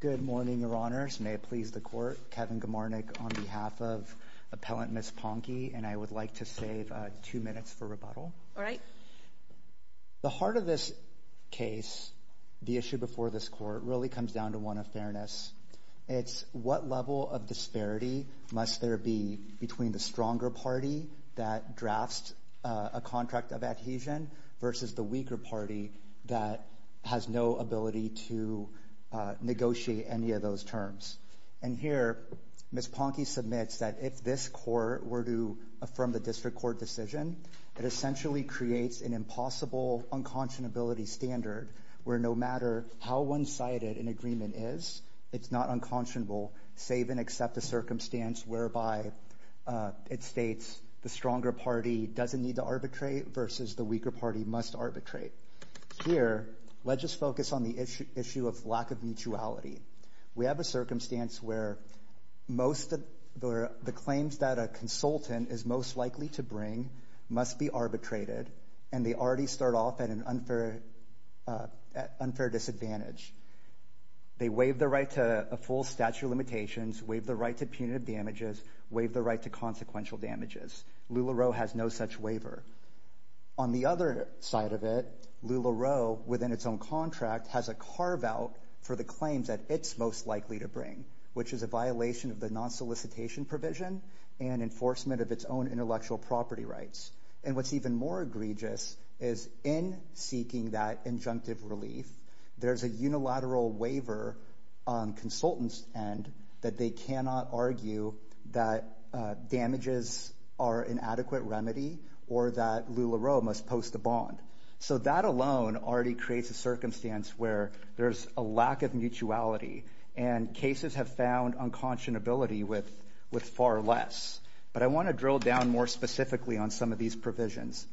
Good morning, Your Honors. May it please the Court. Kevin Gomarnik on behalf of Appellant Ms. Ponkey, and I would like to save two minutes for rebuttal. All right. The heart of this case, the issue before this Court, really comes down to one of fairness. It's what level of disparity must there be between the stronger party that drafts a contract of adhesion versus the weaker party that has no ability to negotiate any of those terms. And here Ms. Ponkey submits that if this Court were to affirm the district court decision, it essentially creates an impossible unconscionability standard where no matter how one-sided an agreement is, it's not unconscionable, save and accept the circumstance whereby it states the stronger party doesn't need to arbitrate versus the weaker party must arbitrate. Here, let's just focus on the issue of lack of mutuality. We have a circumstance where the claims that a consultant is most likely to bring must be arbitrated, and they already start off at an unfair disadvantage. They waive the right to a full statute of limitations, waive the right to punitive damages, waive the right to consequential damages. LuLaRoe has no such waiver. On the other side of it, LuLaRoe, within its own contract, has a carve-out for the claims that it's most likely to bring, which is a violation of the non-solicitation provision and enforcement of its own intellectual property rights. And what's even more egregious is in seeking that injunctive relief, there's a unilateral waiver on consultants' end that they cannot argue that damages are an adequate remedy or that LuLaRoe must post a bond. So that alone already creates a circumstance where there's a lack of mutuality, and cases have found unconscionability with far less. But I want to drill down more specifically on some of these provisions.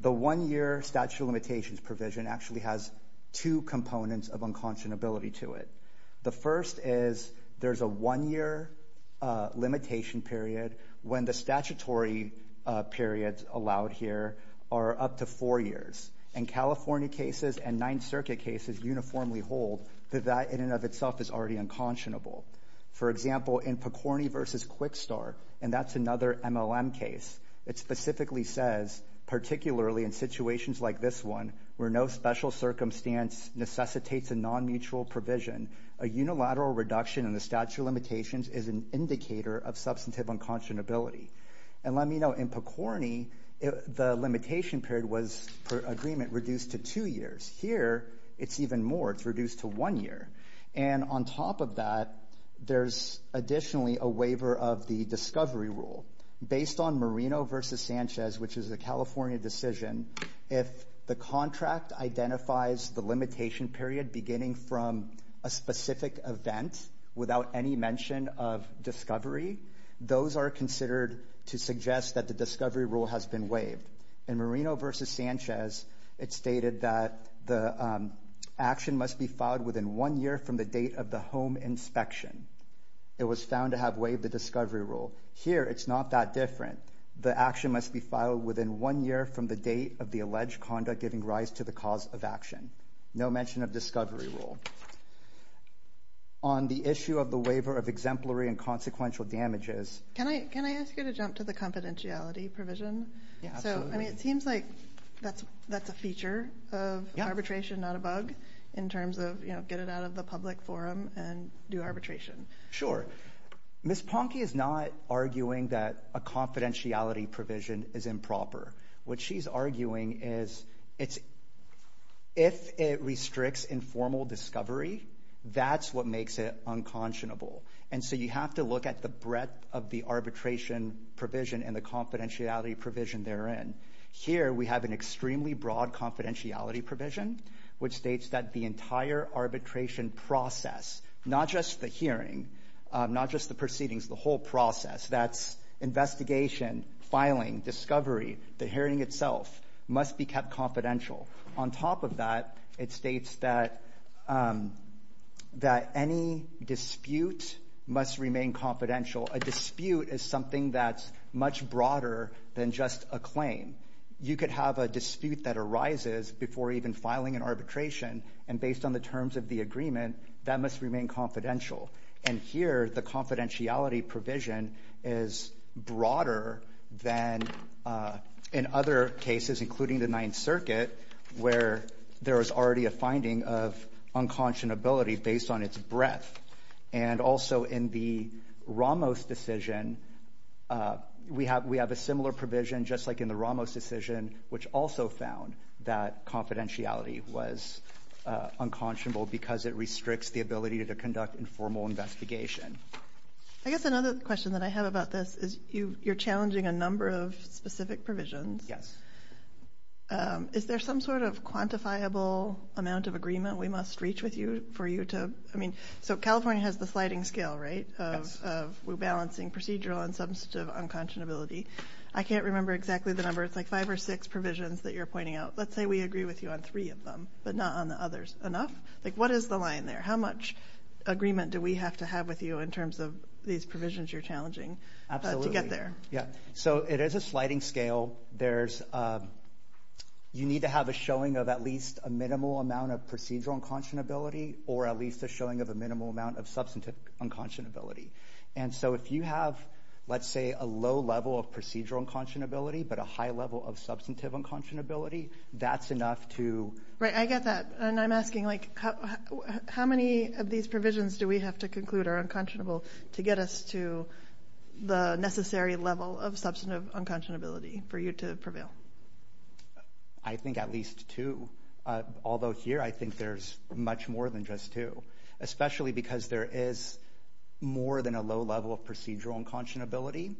The one-year statute of limitations provision actually has two components of unconscionability to it. The first is there's a one-year limitation period when the statutory periods allowed here are up to four years, and California cases and Ninth Circuit cases uniformly hold that that in and of itself is already unconscionable. For example, in Picorni v. Quickstart, and that's another MLM case, it specifically says, particularly in situations like this one where no special circumstance necessitates a non-mutual provision, a unilateral reduction in the statute of limitations is an indicator of substantive unconscionability. And let me know, in Picorni, the limitation period was, per agreement, reduced to two years. Here, it's even more. It's reduced to one year. And on top of that, there's additionally a waiver of the discovery rule. Based on Marino v. Sanchez, which is a California decision, if the contract identifies the limitation period beginning from a specific event without any mention of discovery, those are considered to suggest that the discovery rule has been waived. In Marino v. Sanchez, it's stated that the action must be filed within one year from the date of the home inspection. It was found to have waived the discovery rule. Here, it's not that different. The action must be filed within one year from the date of the alleged conduct giving rise to the cause of action. No mention of discovery rule. On the issue of the waiver of exemplary and consequential damages... Can I ask you to jump to the confidentiality provision? Yeah, absolutely. So, I mean, it seems like that's a feature of arbitration, not a bug, in terms of, you know, get it out of the public forum and do arbitration. Sure. Ms. Ponke is not arguing that a confidentiality provision is improper. What she's arguing is if it restricts informal discovery, that's what makes it unconscionable. And so you have to look at the breadth of the arbitration provision and the confidentiality provision therein. Here, we have an extremely broad confidentiality provision which states that the entire arbitration process, not just the hearing, not just the proceedings, the whole process, that's investigation, filing, discovery, the hearing itself must be kept confidential. On top of that, it states that any dispute must remain confidential. A dispute is something that's much broader than just a claim. You could have a dispute that arises before even filing an arbitration, and based on the terms of the agreement, that must remain confidential. And here, the confidentiality provision is broader than in other cases, including the Ninth Circuit, where there is already a finding of unconscionability based on its breadth. And also in the Ramos decision, we have a similar provision, just like in the Ramos decision, which also found that confidentiality was unconscionable because it restricts the ability to conduct informal investigation. I guess another question that I have about this is you're challenging a number of specific provisions. Yes. Is there some sort of quantifiable amount of agreement we must reach with you for you to, I mean, so California has the sliding scale, right, of rebalancing procedural and substantive unconscionability. I can't remember exactly the number. It's like five or six provisions that you're pointing out. Let's say we agree with you on three of them, but not on the others. Enough? Like, what is the line there? How much agreement do we have to have with you in terms of these provisions you're challenging to get there? Absolutely. Yeah. So it is a sliding scale. You need to have a showing of at least a minimal amount of procedural unconscionability or at least a showing of a minimal amount of substantive unconscionability. And so if you have, let's say, a low level of procedural unconscionability but a high level of substantive unconscionability, that's enough to... Right, I get that. And I'm asking, like, how many of these provisions do we have to conclude are unconscionable to get us to the necessary level of substantive unconscionability for you to prevail? I think at least two, although here I think there's much more than just two, especially because there is more than a low level of procedural unconscionability.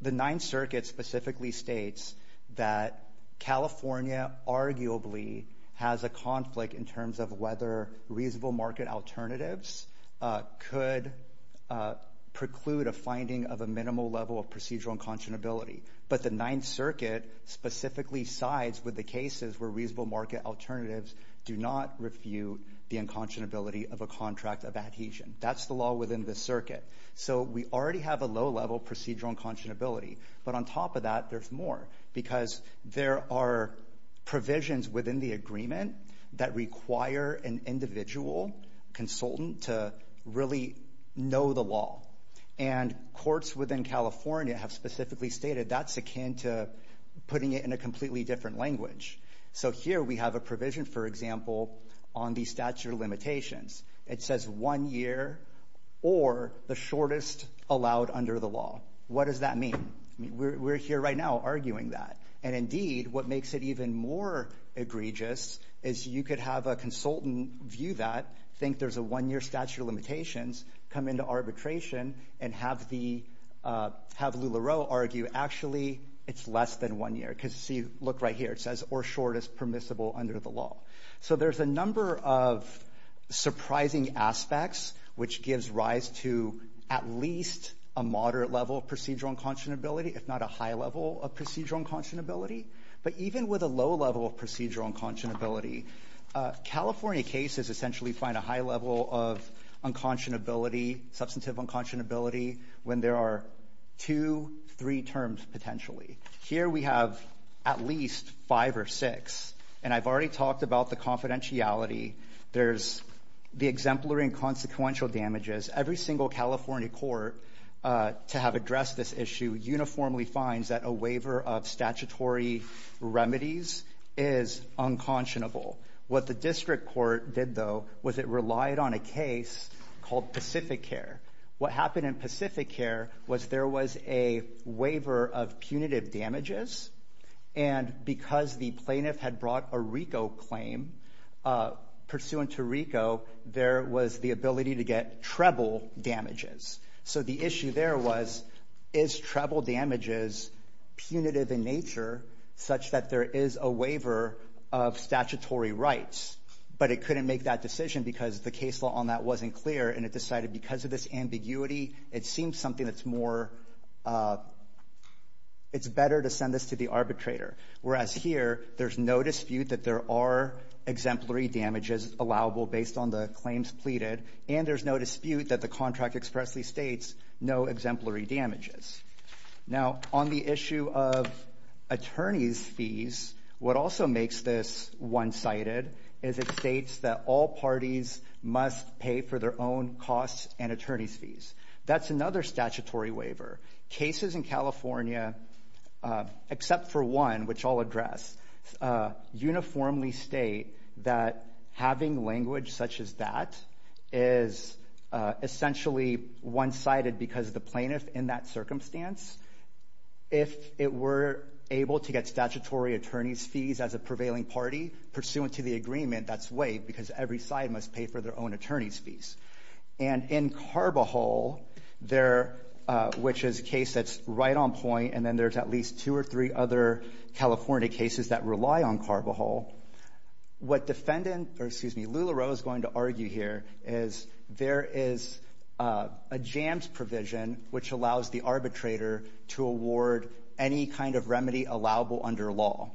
The Ninth Circuit specifically states that California arguably has a conflict in terms of whether reasonable market alternatives could preclude a finding of a minimal level of procedural unconscionability. But the Ninth Circuit specifically sides with the cases where reasonable market alternatives do not refute the unconscionability of a contract of adhesion. That's the law within the circuit. So we already have a low level of procedural unconscionability, but on top of that there's more because there are provisions within the agreement that require an individual consultant to really know the law. And courts within California have specifically stated that's akin to putting it in a completely different language. So here we have a provision, for example, on the statute of limitations. It says one year or the shortest allowed under the law. What does that mean? We're here right now arguing that. And indeed what makes it even more egregious is you could have a consultant view that, think there's a one-year statute of limitations, come into arbitration and have LuLaRoe argue actually it's less than one year. Because look right here, it says or shortest permissible under the law. So there's a number of surprising aspects which gives rise to at least a moderate level of procedural unconscionability, if not a high level of procedural unconscionability. But even with a low level of procedural unconscionability, California cases essentially find a high level of unconscionability, substantive unconscionability, when there are two, three terms potentially. Here we have at least five or six. And I've already talked about the confidentiality. There's the exemplary and consequential damages. Every single California court to have addressed this issue uniformly finds that a waiver of statutory remedies is unconscionable. What the district court did, though, was it relied on a case called Pacificare. What happened in Pacificare was there was a waiver of punitive damages, and because the plaintiff had brought a RICO claim pursuant to RICO, there was the ability to get treble damages. So the issue there was is treble damages punitive in nature such that there is a waiver of statutory rights? But it couldn't make that decision because the case law on that wasn't clear, and it decided because of this ambiguity it seems something that's more it's better to send this to the arbitrator, whereas here there's no dispute that there are exemplary damages allowable based on the claims pleaded, and there's no dispute that the contract expressly states no exemplary damages. Now, on the issue of attorneys' fees, what also makes this one-sided is it states that all parties must pay for their own costs and attorneys' fees. That's another statutory waiver. Cases in California, except for one, which I'll address, uniformly state that having language such as that is essentially one-sided because of the plaintiff in that circumstance. If it were able to get statutory attorneys' fees as a prevailing party pursuant to the agreement, that's waived because every side must pay for their own attorneys' fees. And in Carbajal, which is a case that's right on point, and then there's at least two or three other California cases that rely on Carbajal, what Lula Roe is going to argue here is there is a jams provision which allows the arbitrator to award any kind of remedy allowable under law.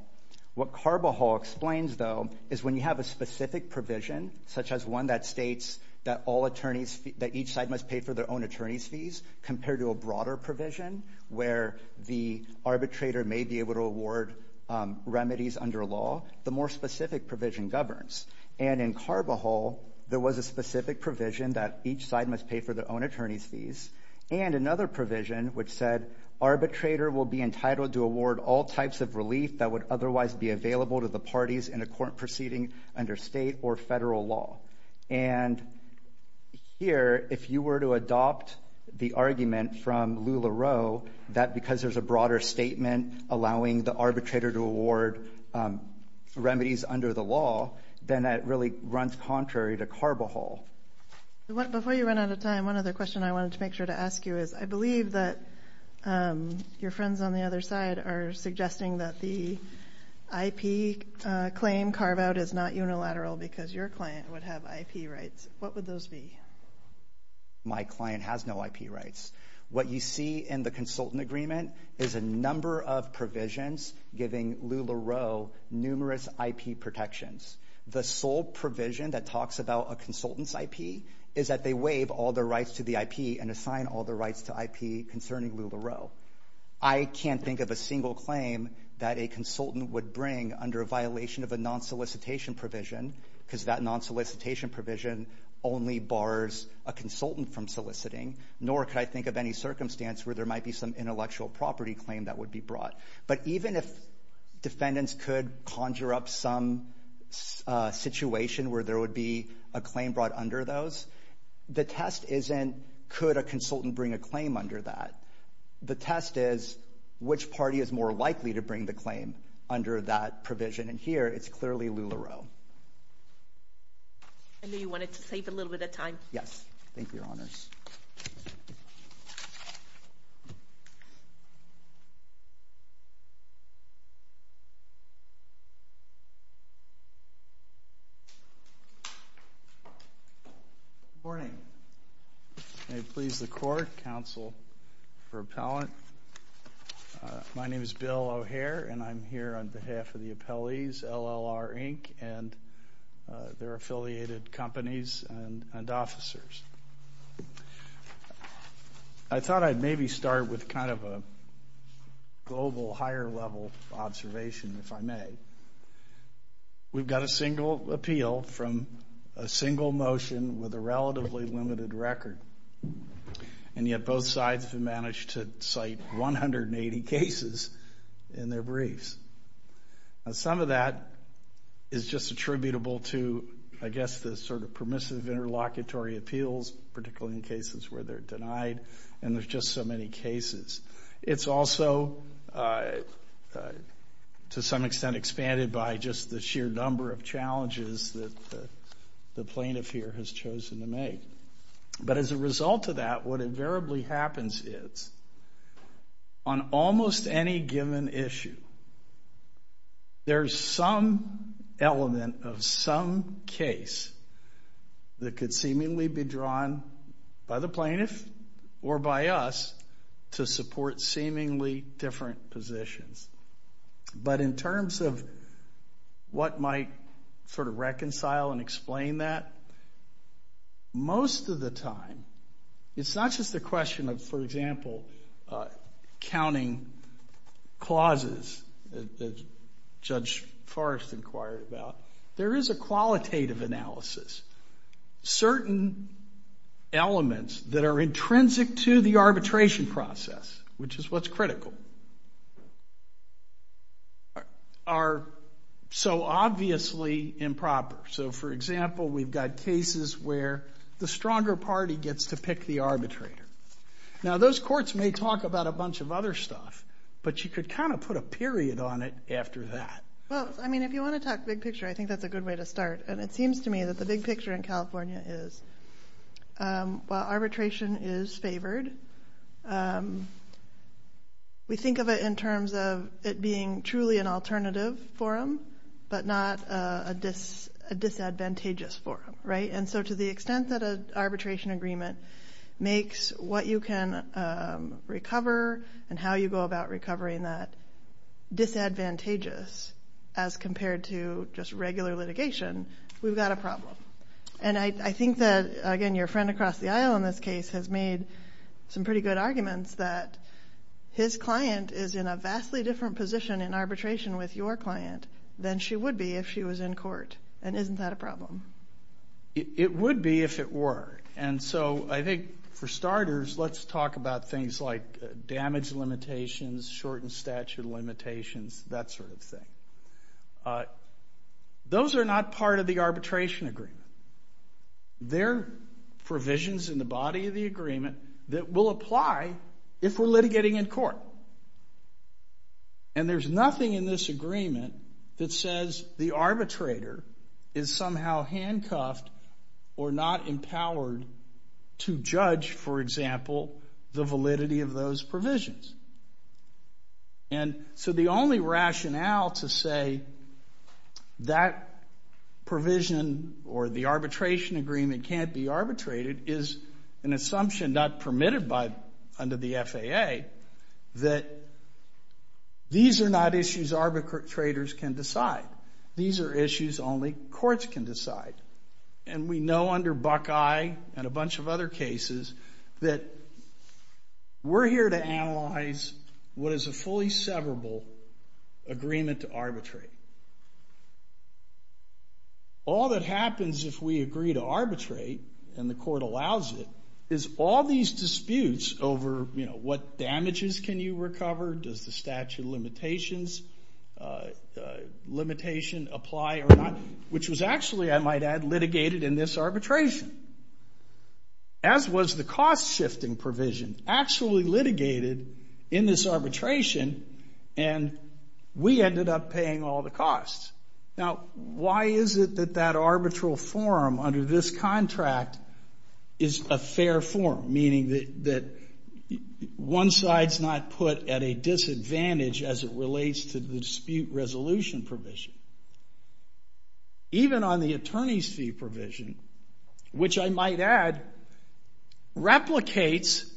What Carbajal explains, though, is when you have a specific provision such as one that states that each side must pay for their own attorneys' fees compared to a broader provision where the arbitrator may be able to award remedies under law, the more specific provision governs. And in Carbajal, there was a specific provision that each side must pay for their own attorneys' fees and another provision which said arbitrator will be entitled to award all types of relief that would otherwise be available to the parties in a court proceeding under state or federal law. And here, if you were to adopt the argument from Lula Roe that because there's a broader statement allowing the arbitrator to award remedies under the law, then that really runs contrary to Carbajal. Before you run out of time, one other question I wanted to make sure to ask you is I believe that your friends on the other side are suggesting that the IP claim carve-out is not unilateral because your client would have IP rights. What would those be? My client has no IP rights. What you see in the consultant agreement is a number of provisions giving Lula Roe numerous IP protections. The sole provision that talks about a consultant's IP is that they waive all their rights to the IP and assign all their rights to IP concerning Lula Roe. I can't think of a single claim that a consultant would bring under a violation of a non-solicitation provision because that non-solicitation provision only bars a consultant from soliciting, nor could I think of any circumstance where there might be some intellectual property claim that would be brought. But even if defendants could conjure up some situation where there would be a claim brought under those, the test isn't could a consultant bring a claim under that. The test is which party is more likely to bring the claim under that provision, and here it's clearly Lula Roe. I know you wanted to save a little bit of time. Yes. Thank you, Your Honours. Good morning. May it please the Court, Counsel for Appellant. My name is Bill O'Hare, and I'm here on behalf of the appellees, LLR, Inc., and their affiliated companies and officers. I thought I'd maybe start with kind of a global, higher-level observation, if I may. We've got a single appeal from a single motion with a relatively limited record, and yet both sides have managed to cite 180 cases in their briefs. Some of that is just attributable to, I guess, the sort of permissive interlocutory appeals, particularly in cases where they're denied, and there's just so many cases. It's also, to some extent, expanded by just the sheer number of challenges that the plaintiff here has chosen to make. But as a result of that, what invariably happens is, on almost any given issue, there's some element of some case that could seemingly be drawn by the plaintiff or by us to support seemingly different positions. But in terms of what might sort of reconcile and explain that, most of the time, it's not just a question of, for example, counting clauses, as Judge Forrest inquired about. There is a qualitative analysis. Certain elements that are intrinsic to the arbitration process, which is what's critical, are so obviously improper. So, for example, we've got cases where the stronger party gets to pick the arbitrator. Now, those courts may talk about a bunch of other stuff, but you could kind of put a period on it after that. Well, I mean, if you want to talk big picture, I think that's a good way to start. And it seems to me that the big picture in California is, while arbitration is favored, we think of it in terms of it being truly an alternative forum, but not a disadvantageous forum, right? And so to the extent that an arbitration agreement makes what you can recover and how you go about recovering that disadvantageous as compared to just regular litigation, we've got a problem. And I think that, again, your friend across the aisle in this case has made some pretty good arguments that his client is in a vastly different position in arbitration with your client than she would be if she was in court. And isn't that a problem? It would be if it were. And so I think, for starters, let's talk about things like damage limitations, shortened statute of limitations, that sort of thing. Those are not part of the arbitration agreement. They're provisions in the body of the agreement that will apply if we're litigating in court. And there's nothing in this agreement that says the arbitrator is somehow handcuffed or not empowered to judge, for example, the validity of those provisions. And so the only rationale to say that provision or the arbitration agreement can't be arbitrated is an assumption not permitted under the FAA that these are not issues arbitrators can decide. These are issues only courts can decide. And we know under Buckeye and a bunch of other cases that we're here to analyze what is a fully severable agreement to arbitrate. All that happens if we agree to arbitrate, and the court allows it, is all these disputes over, you know, what damages can you recover, does the statute of limitations limitation apply or not, which was actually, I might add, litigated in this arbitration. As was the cost-shifting provision, actually litigated in this arbitration, and we ended up paying all the costs. Now, why is it that that arbitral forum under this contract is a fair forum, meaning that one side's not put at a disadvantage as it relates to the dispute resolution provision? Even on the attorney's fee provision, which I might add, replicates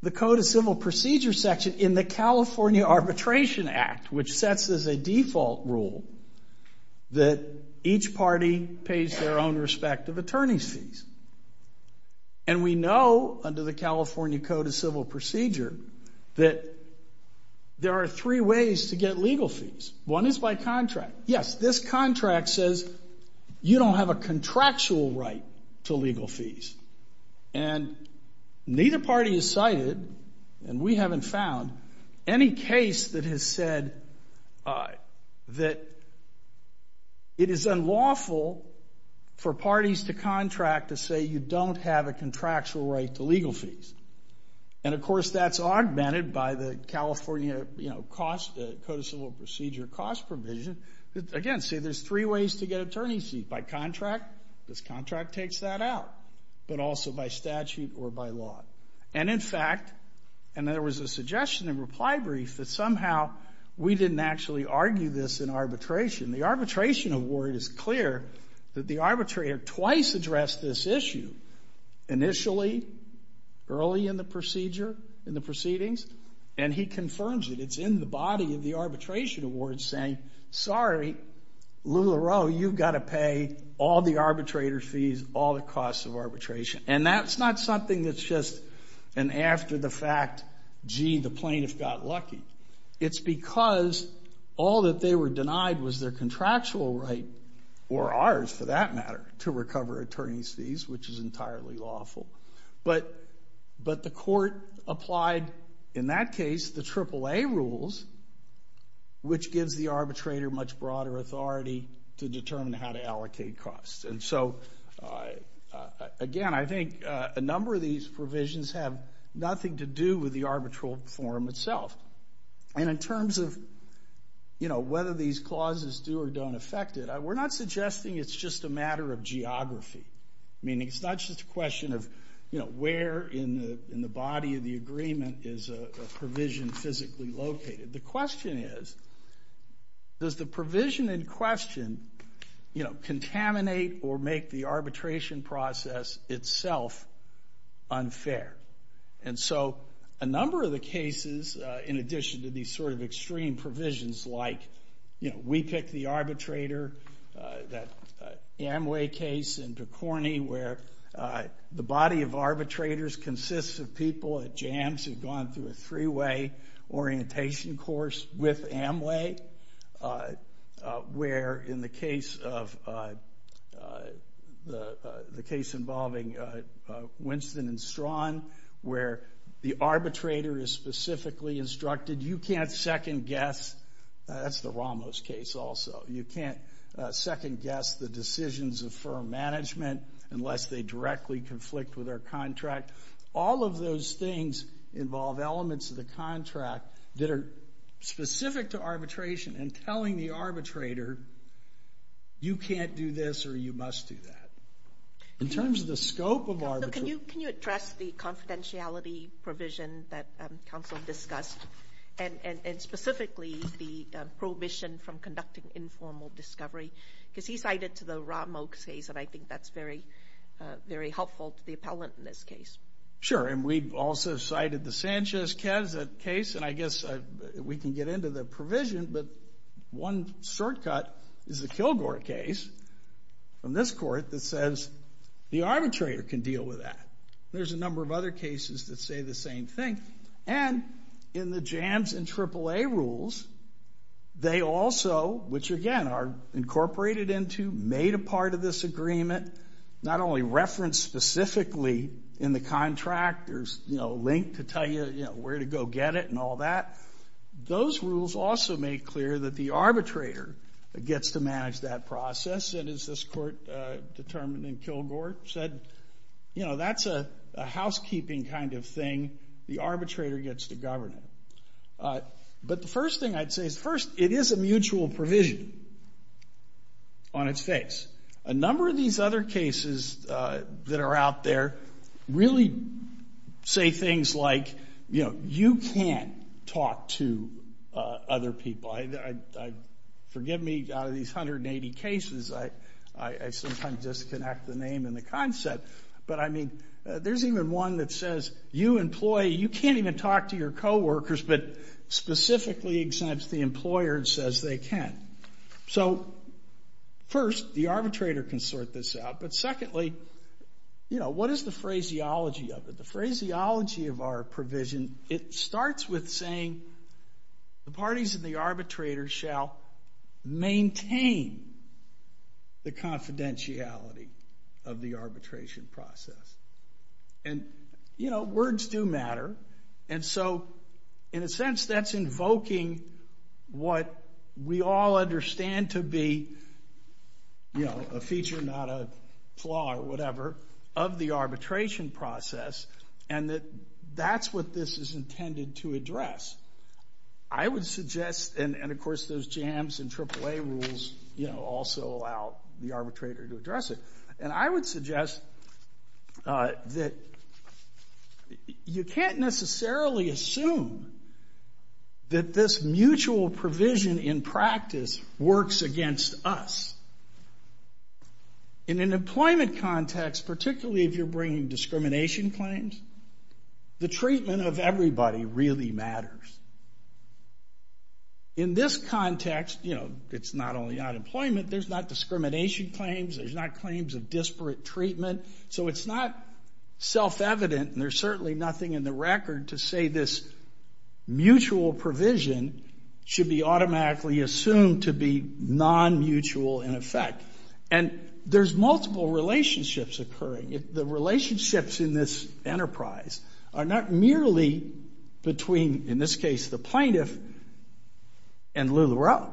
the Code of Civil Procedure section in the California Arbitration Act, which sets as a default rule that each party pays their own respective attorney's fees. And we know under the California Code of Civil Procedure that there are three ways to get legal fees. One is by contract. Yes, this contract says you don't have a contractual right to legal fees. And neither party has cited, and we haven't found, any case that has said that it is unlawful for parties to contract to say you don't have a contractual right to legal fees. And, of course, that's augmented by the California, you know, Code of Civil Procedure cost provision. Again, see, there's three ways to get attorney's fees. By contract, this contract takes that out, but also by statute or by law. And, in fact, and there was a suggestion in reply brief that somehow we didn't actually argue this in arbitration. The arbitration award is clear that the arbitrator twice addressed this issue, initially early in the procedure, in the proceedings, and he confirms it. It's in the body of the arbitration award saying, sorry, LuLaRoe, you've got to pay all the arbitrator's fees, all the costs of arbitration. And that's not something that's just an after the fact, gee, the plaintiff got lucky. It's because all that they were denied was their contractual right, or ours for that matter, to recover attorney's fees, which is entirely lawful. But the court applied, in that case, the AAA rules, which gives the arbitrator much broader authority to determine how to allocate costs. And so, again, I think a number of these provisions have nothing to do with the arbitral form itself. And in terms of, you know, whether these clauses do or don't affect it, we're not suggesting it's just a matter of geography, meaning it's not just a question of, you know, where in the body of the agreement is a provision physically located. The question is, does the provision in question, you know, contaminate or make the arbitration process itself unfair? And so a number of the cases, in addition to these sort of extreme provisions like, you know, we pick the arbitrator, that Amway case in De Corny, where the body of arbitrators consists of people at jams who've gone through a three-way orientation course with Amway, where in the case involving Winston and Strawn, where the arbitrator is specifically instructed, you can't second-guess. That's the Ramos case also. You can't second-guess the decisions of firm management unless they directly conflict with our contract. All of those things involve elements of the contract that are specific to arbitration and telling the arbitrator, you can't do this or you must do that. In terms of the scope of arbitration... and specifically the prohibition from conducting informal discovery, because he cited to the Ramos case, and I think that's very helpful to the appellant in this case. Sure, and we've also cited the Sanchez-Keset case, and I guess we can get into the provision, but one shortcut is the Kilgore case from this court that says the arbitrator can deal with that. There's a number of other cases that say the same thing. And in the Jams and AAA rules, they also, which again are incorporated into, made a part of this agreement, not only referenced specifically in the contract, there's a link to tell you where to go get it and all that. Those rules also make clear that the arbitrator gets to manage that process, and as this court determined in Kilgore, said, you know, that's a housekeeping kind of thing. The arbitrator gets to govern it. But the first thing I'd say is, first, it is a mutual provision on its face. A number of these other cases that are out there really say things like, you know, you can't talk to other people. Forgive me, out of these 180 cases, I sometimes disconnect the name and the concept, but I mean, there's even one that says, you employee, you can't even talk to your coworkers, but specifically exempts the employer and says they can. So, first, the arbitrator can sort this out, but secondly, you know, what is the phraseology of it? The phraseology of our provision, it starts with saying, the parties and the arbitrator shall maintain the confidentiality of the arbitration process. And, you know, words do matter, and so, in a sense, that's invoking what we all understand to be, you know, a feature, not a flaw or whatever, of the arbitration process, and that that's what this is intended to address. I would suggest, and, of course, those JAMS and AAA rules, you know, also allow the arbitrator to address it, and I would suggest that you can't necessarily assume that this mutual provision in practice works against us. In an employment context, particularly if you're bringing discrimination claims, the treatment of everybody really matters. In this context, you know, it's not only unemployment, there's not discrimination claims, there's not claims of disparate treatment, so it's not self-evident, and there's certainly nothing in the record to say this mutual provision should be automatically assumed to be non-mutual in effect. And there's multiple relationships occurring. The relationships in this enterprise are not merely between, in this case, the plaintiff and LuLaRoe.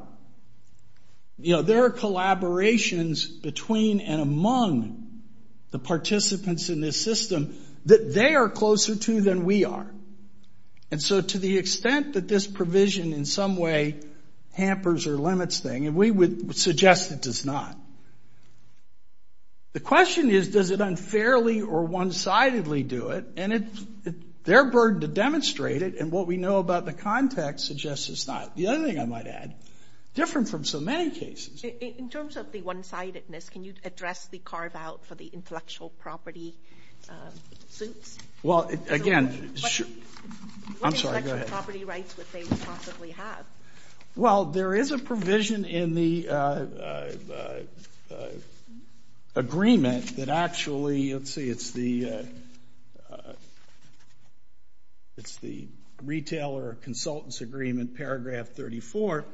You know, there are collaborations between and among the participants in this system that they are closer to than we are, and so to the extent that this provision in some way hampers or limits things, and we would suggest it does not, the question is, does it unfairly or one-sidedly do it? And it's their burden to demonstrate it, and what we know about the context suggests it's not. The other thing I might add, different from so many cases... In terms of the one-sidedness, can you address the carve-out for the intellectual property suits? Well, again... What intellectual property rights would they possibly have? Well, there is a provision in the agreement that actually... Let's see, it's the... It's the Retailer Consultants Agreement, paragraph 34,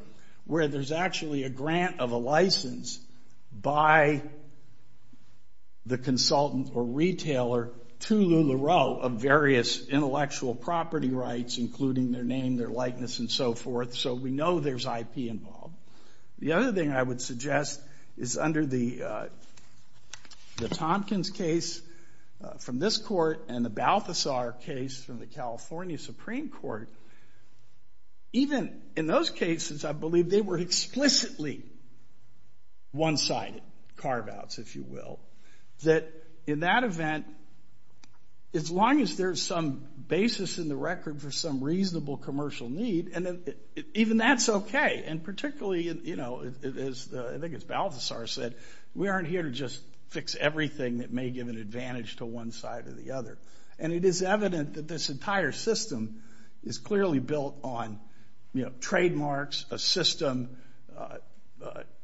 where there's actually a grant of a license by the consultant or retailer to LuLaRoe of various intellectual property rights, including their name, their likeness, and so forth, so we know there's IP involved. The other thing I would suggest is under the Tompkins case from this court and the Balthasar case from the California Supreme Court, even in those cases, I believe they were explicitly one-sided carve-outs, if you will, that in that event, as long as there's some basis in the record for some reasonable commercial need, even that's okay, and particularly, you know, as I think it's Balthasar said, we aren't here to just fix everything that may give an advantage to one side or the other. And it is evident that this entire system is clearly built on, you know, trademarks, a system,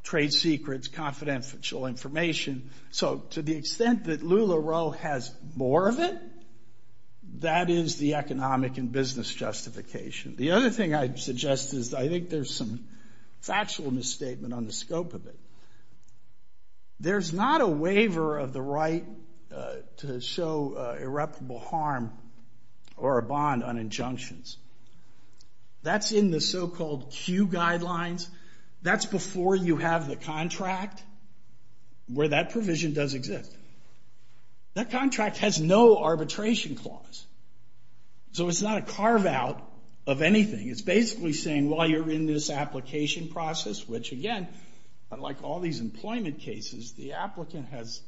trade secrets, confidential information. So to the extent that LuLaRoe has more of it, that is the economic and business justification. The other thing I'd suggest is I think there's some factual misstatement on the scope of it. There's not a waiver of the right to show irreparable harm or a bond on injunctions. That's in the so-called Q guidelines. That's before you have the contract where that provision does exist. That contract has no arbitration clause. So it's not a carve-out of anything. It's basically saying, well, you're in this application process, which, again, unlike all these employment cases, the applicant has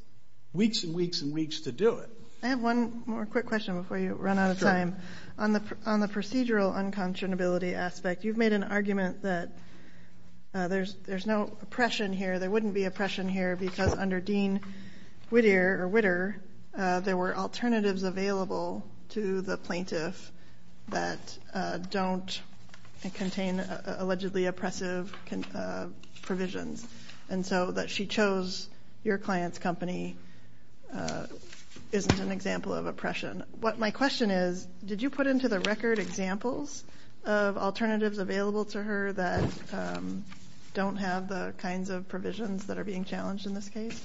weeks and weeks and weeks to do it. I have one more quick question before you run out of time. On the procedural unconscionability aspect, you've made an argument that there's no oppression here, there wouldn't be oppression here, because under Dean Whittier, there were alternatives available to the plaintiff that don't contain allegedly oppressive provisions. And so that she chose your client's company isn't an example of oppression. My question is, did you put into the record examples of alternatives available to her that don't have the kinds of provisions that are being challenged in this case?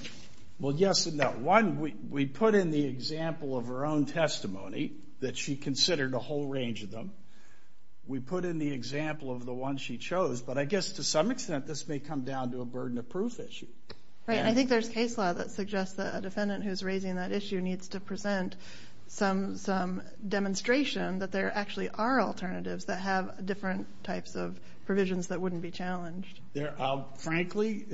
Well, yes and no. One, we put in the example of her own testimony that she considered a whole range of them. We put in the example of the one she chose. But I guess to some extent, this may come down to a burden of proof issue. Right, and I think there's case law that suggests that a defendant who's raising that issue needs to present some demonstration that there actually are alternatives that have different types of provisions that wouldn't be challenged. Frankly,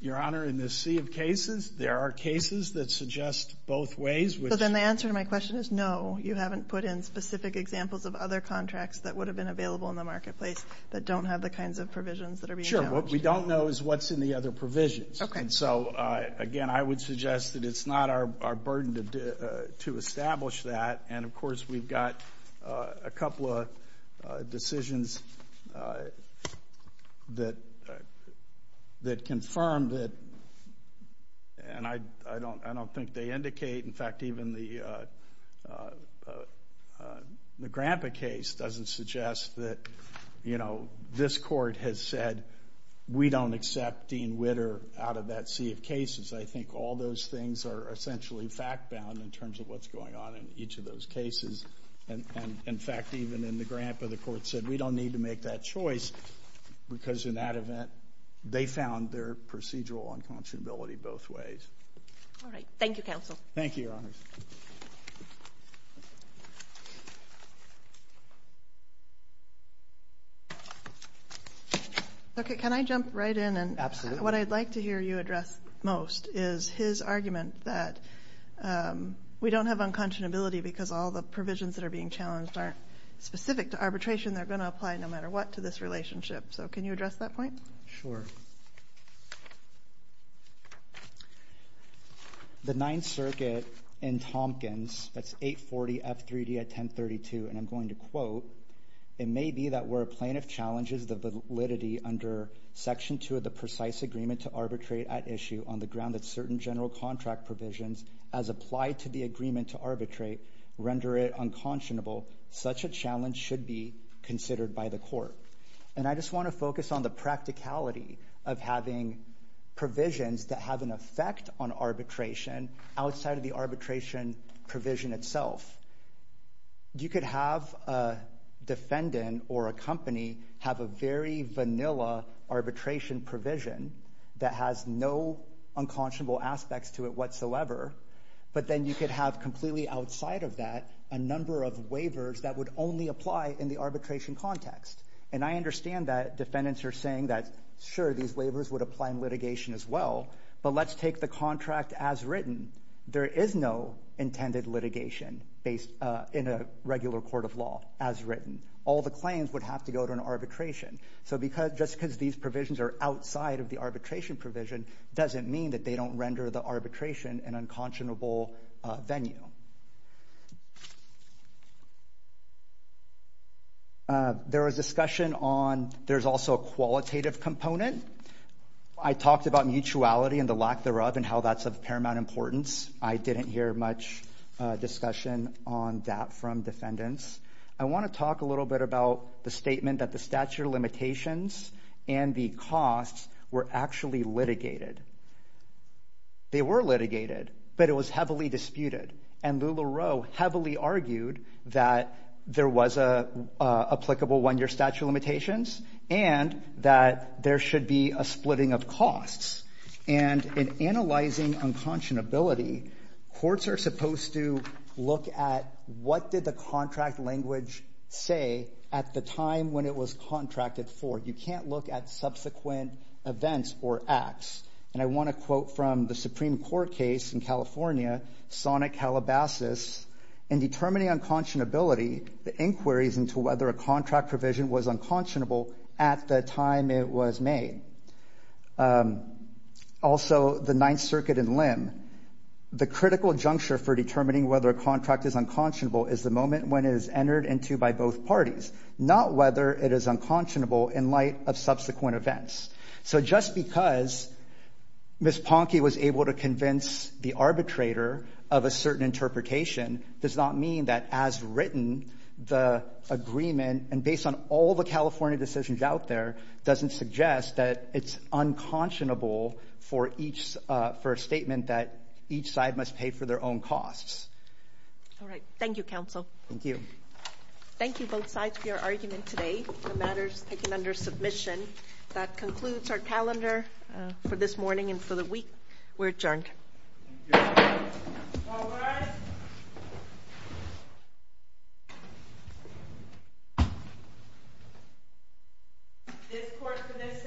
Your Honor, in this sea of cases, there are cases that suggest both ways. So then the answer to my question is no, you haven't put in specific examples of other contracts that would have been available in the marketplace that don't have the kinds of provisions that are being challenged. Sure, what we don't know is what's in the other provisions. And so, again, I would suggest that it's not our burden to establish that. And, of course, we've got a couple of decisions that confirm that... and I don't think they indicate. In fact, even the Grandpa case doesn't suggest that, you know, this court has said, we don't accept Dean Witter out of that sea of cases. I think all those things are essentially fact-bound in terms of what's going on in each of those cases. And, in fact, even in the Grandpa, the court said, we don't need to make that choice, because in that event, they found their procedural unconscionability both ways. All right, thank you, Counsel. Thank you, Your Honors. Okay, can I jump right in? Absolutely. What I'd like to hear you address most is his argument that we don't have unconscionability because all the provisions that are being challenged aren't specific to arbitration. They're going to apply no matter what to this relationship. So can you address that point? Sure. The Ninth Circuit in Tompkins, that's 840 F3D at 1032, and I'm going to quote, it may be that where a plaintiff challenges the validity under Section 2 of the precise agreement to arbitrate at issue on the ground that certain general contract provisions as applied to the agreement to arbitrate render it unconscionable, such a challenge should be considered by the court. And I just want to focus on the practicality of having provisions that have an effect on arbitration outside of the arbitration provision itself. You could have a defendant or a company have a very vanilla arbitration provision that has no unconscionable aspects to it whatsoever, but then you could have completely outside of that a number of waivers that would only apply in the arbitration context. And I understand that defendants are saying that, sure, these waivers would apply in litigation as well, but let's take the contract as written. There is no intended litigation in a regular court of law as written. All the claims would have to go to an arbitration. So just because these provisions are outside of the arbitration provision doesn't mean that they don't render the arbitration an unconscionable venue. There was discussion on... There's also a qualitative component. I talked about mutuality and the lack thereof and how that's of paramount importance. I didn't hear much discussion on that from defendants. I want to talk a little bit about the statement that the statute of limitations and the costs were actually litigated. They were litigated, but it was heavily disputed. And LuLaRoe heavily argued that there was an applicable one-year statute of limitations and that there should be a splitting of costs. And in analyzing unconscionability, courts are supposed to look at what did the contract language say at the time when it was contracted for. You can't look at subsequent events or acts. And I want to quote from the Supreme Court case in California, Sonic Halabasas, in determining unconscionability, the inquiries into whether a contract provision was unconscionable at the time it was made. Also, the Ninth Circuit in Lim, the critical juncture for determining whether a contract is unconscionable is the moment when it is entered into by both parties, not whether it is unconscionable in light of subsequent events. So just because Ms. Ponke was able to convince the arbitrator of a certain interpretation does not mean that as written, the agreement, and based on all the California decisions out there, doesn't suggest that it's unconscionable for a statement that each side must pay for their own costs. All right. Thank you, counsel. Thank you. Thank you, both sides, for your argument today. The matter is taken under submission. That concludes our calendar for this morning and for the week. We're adjourned. Thank you. All rise. This court for this session stands adjourned. Thank you.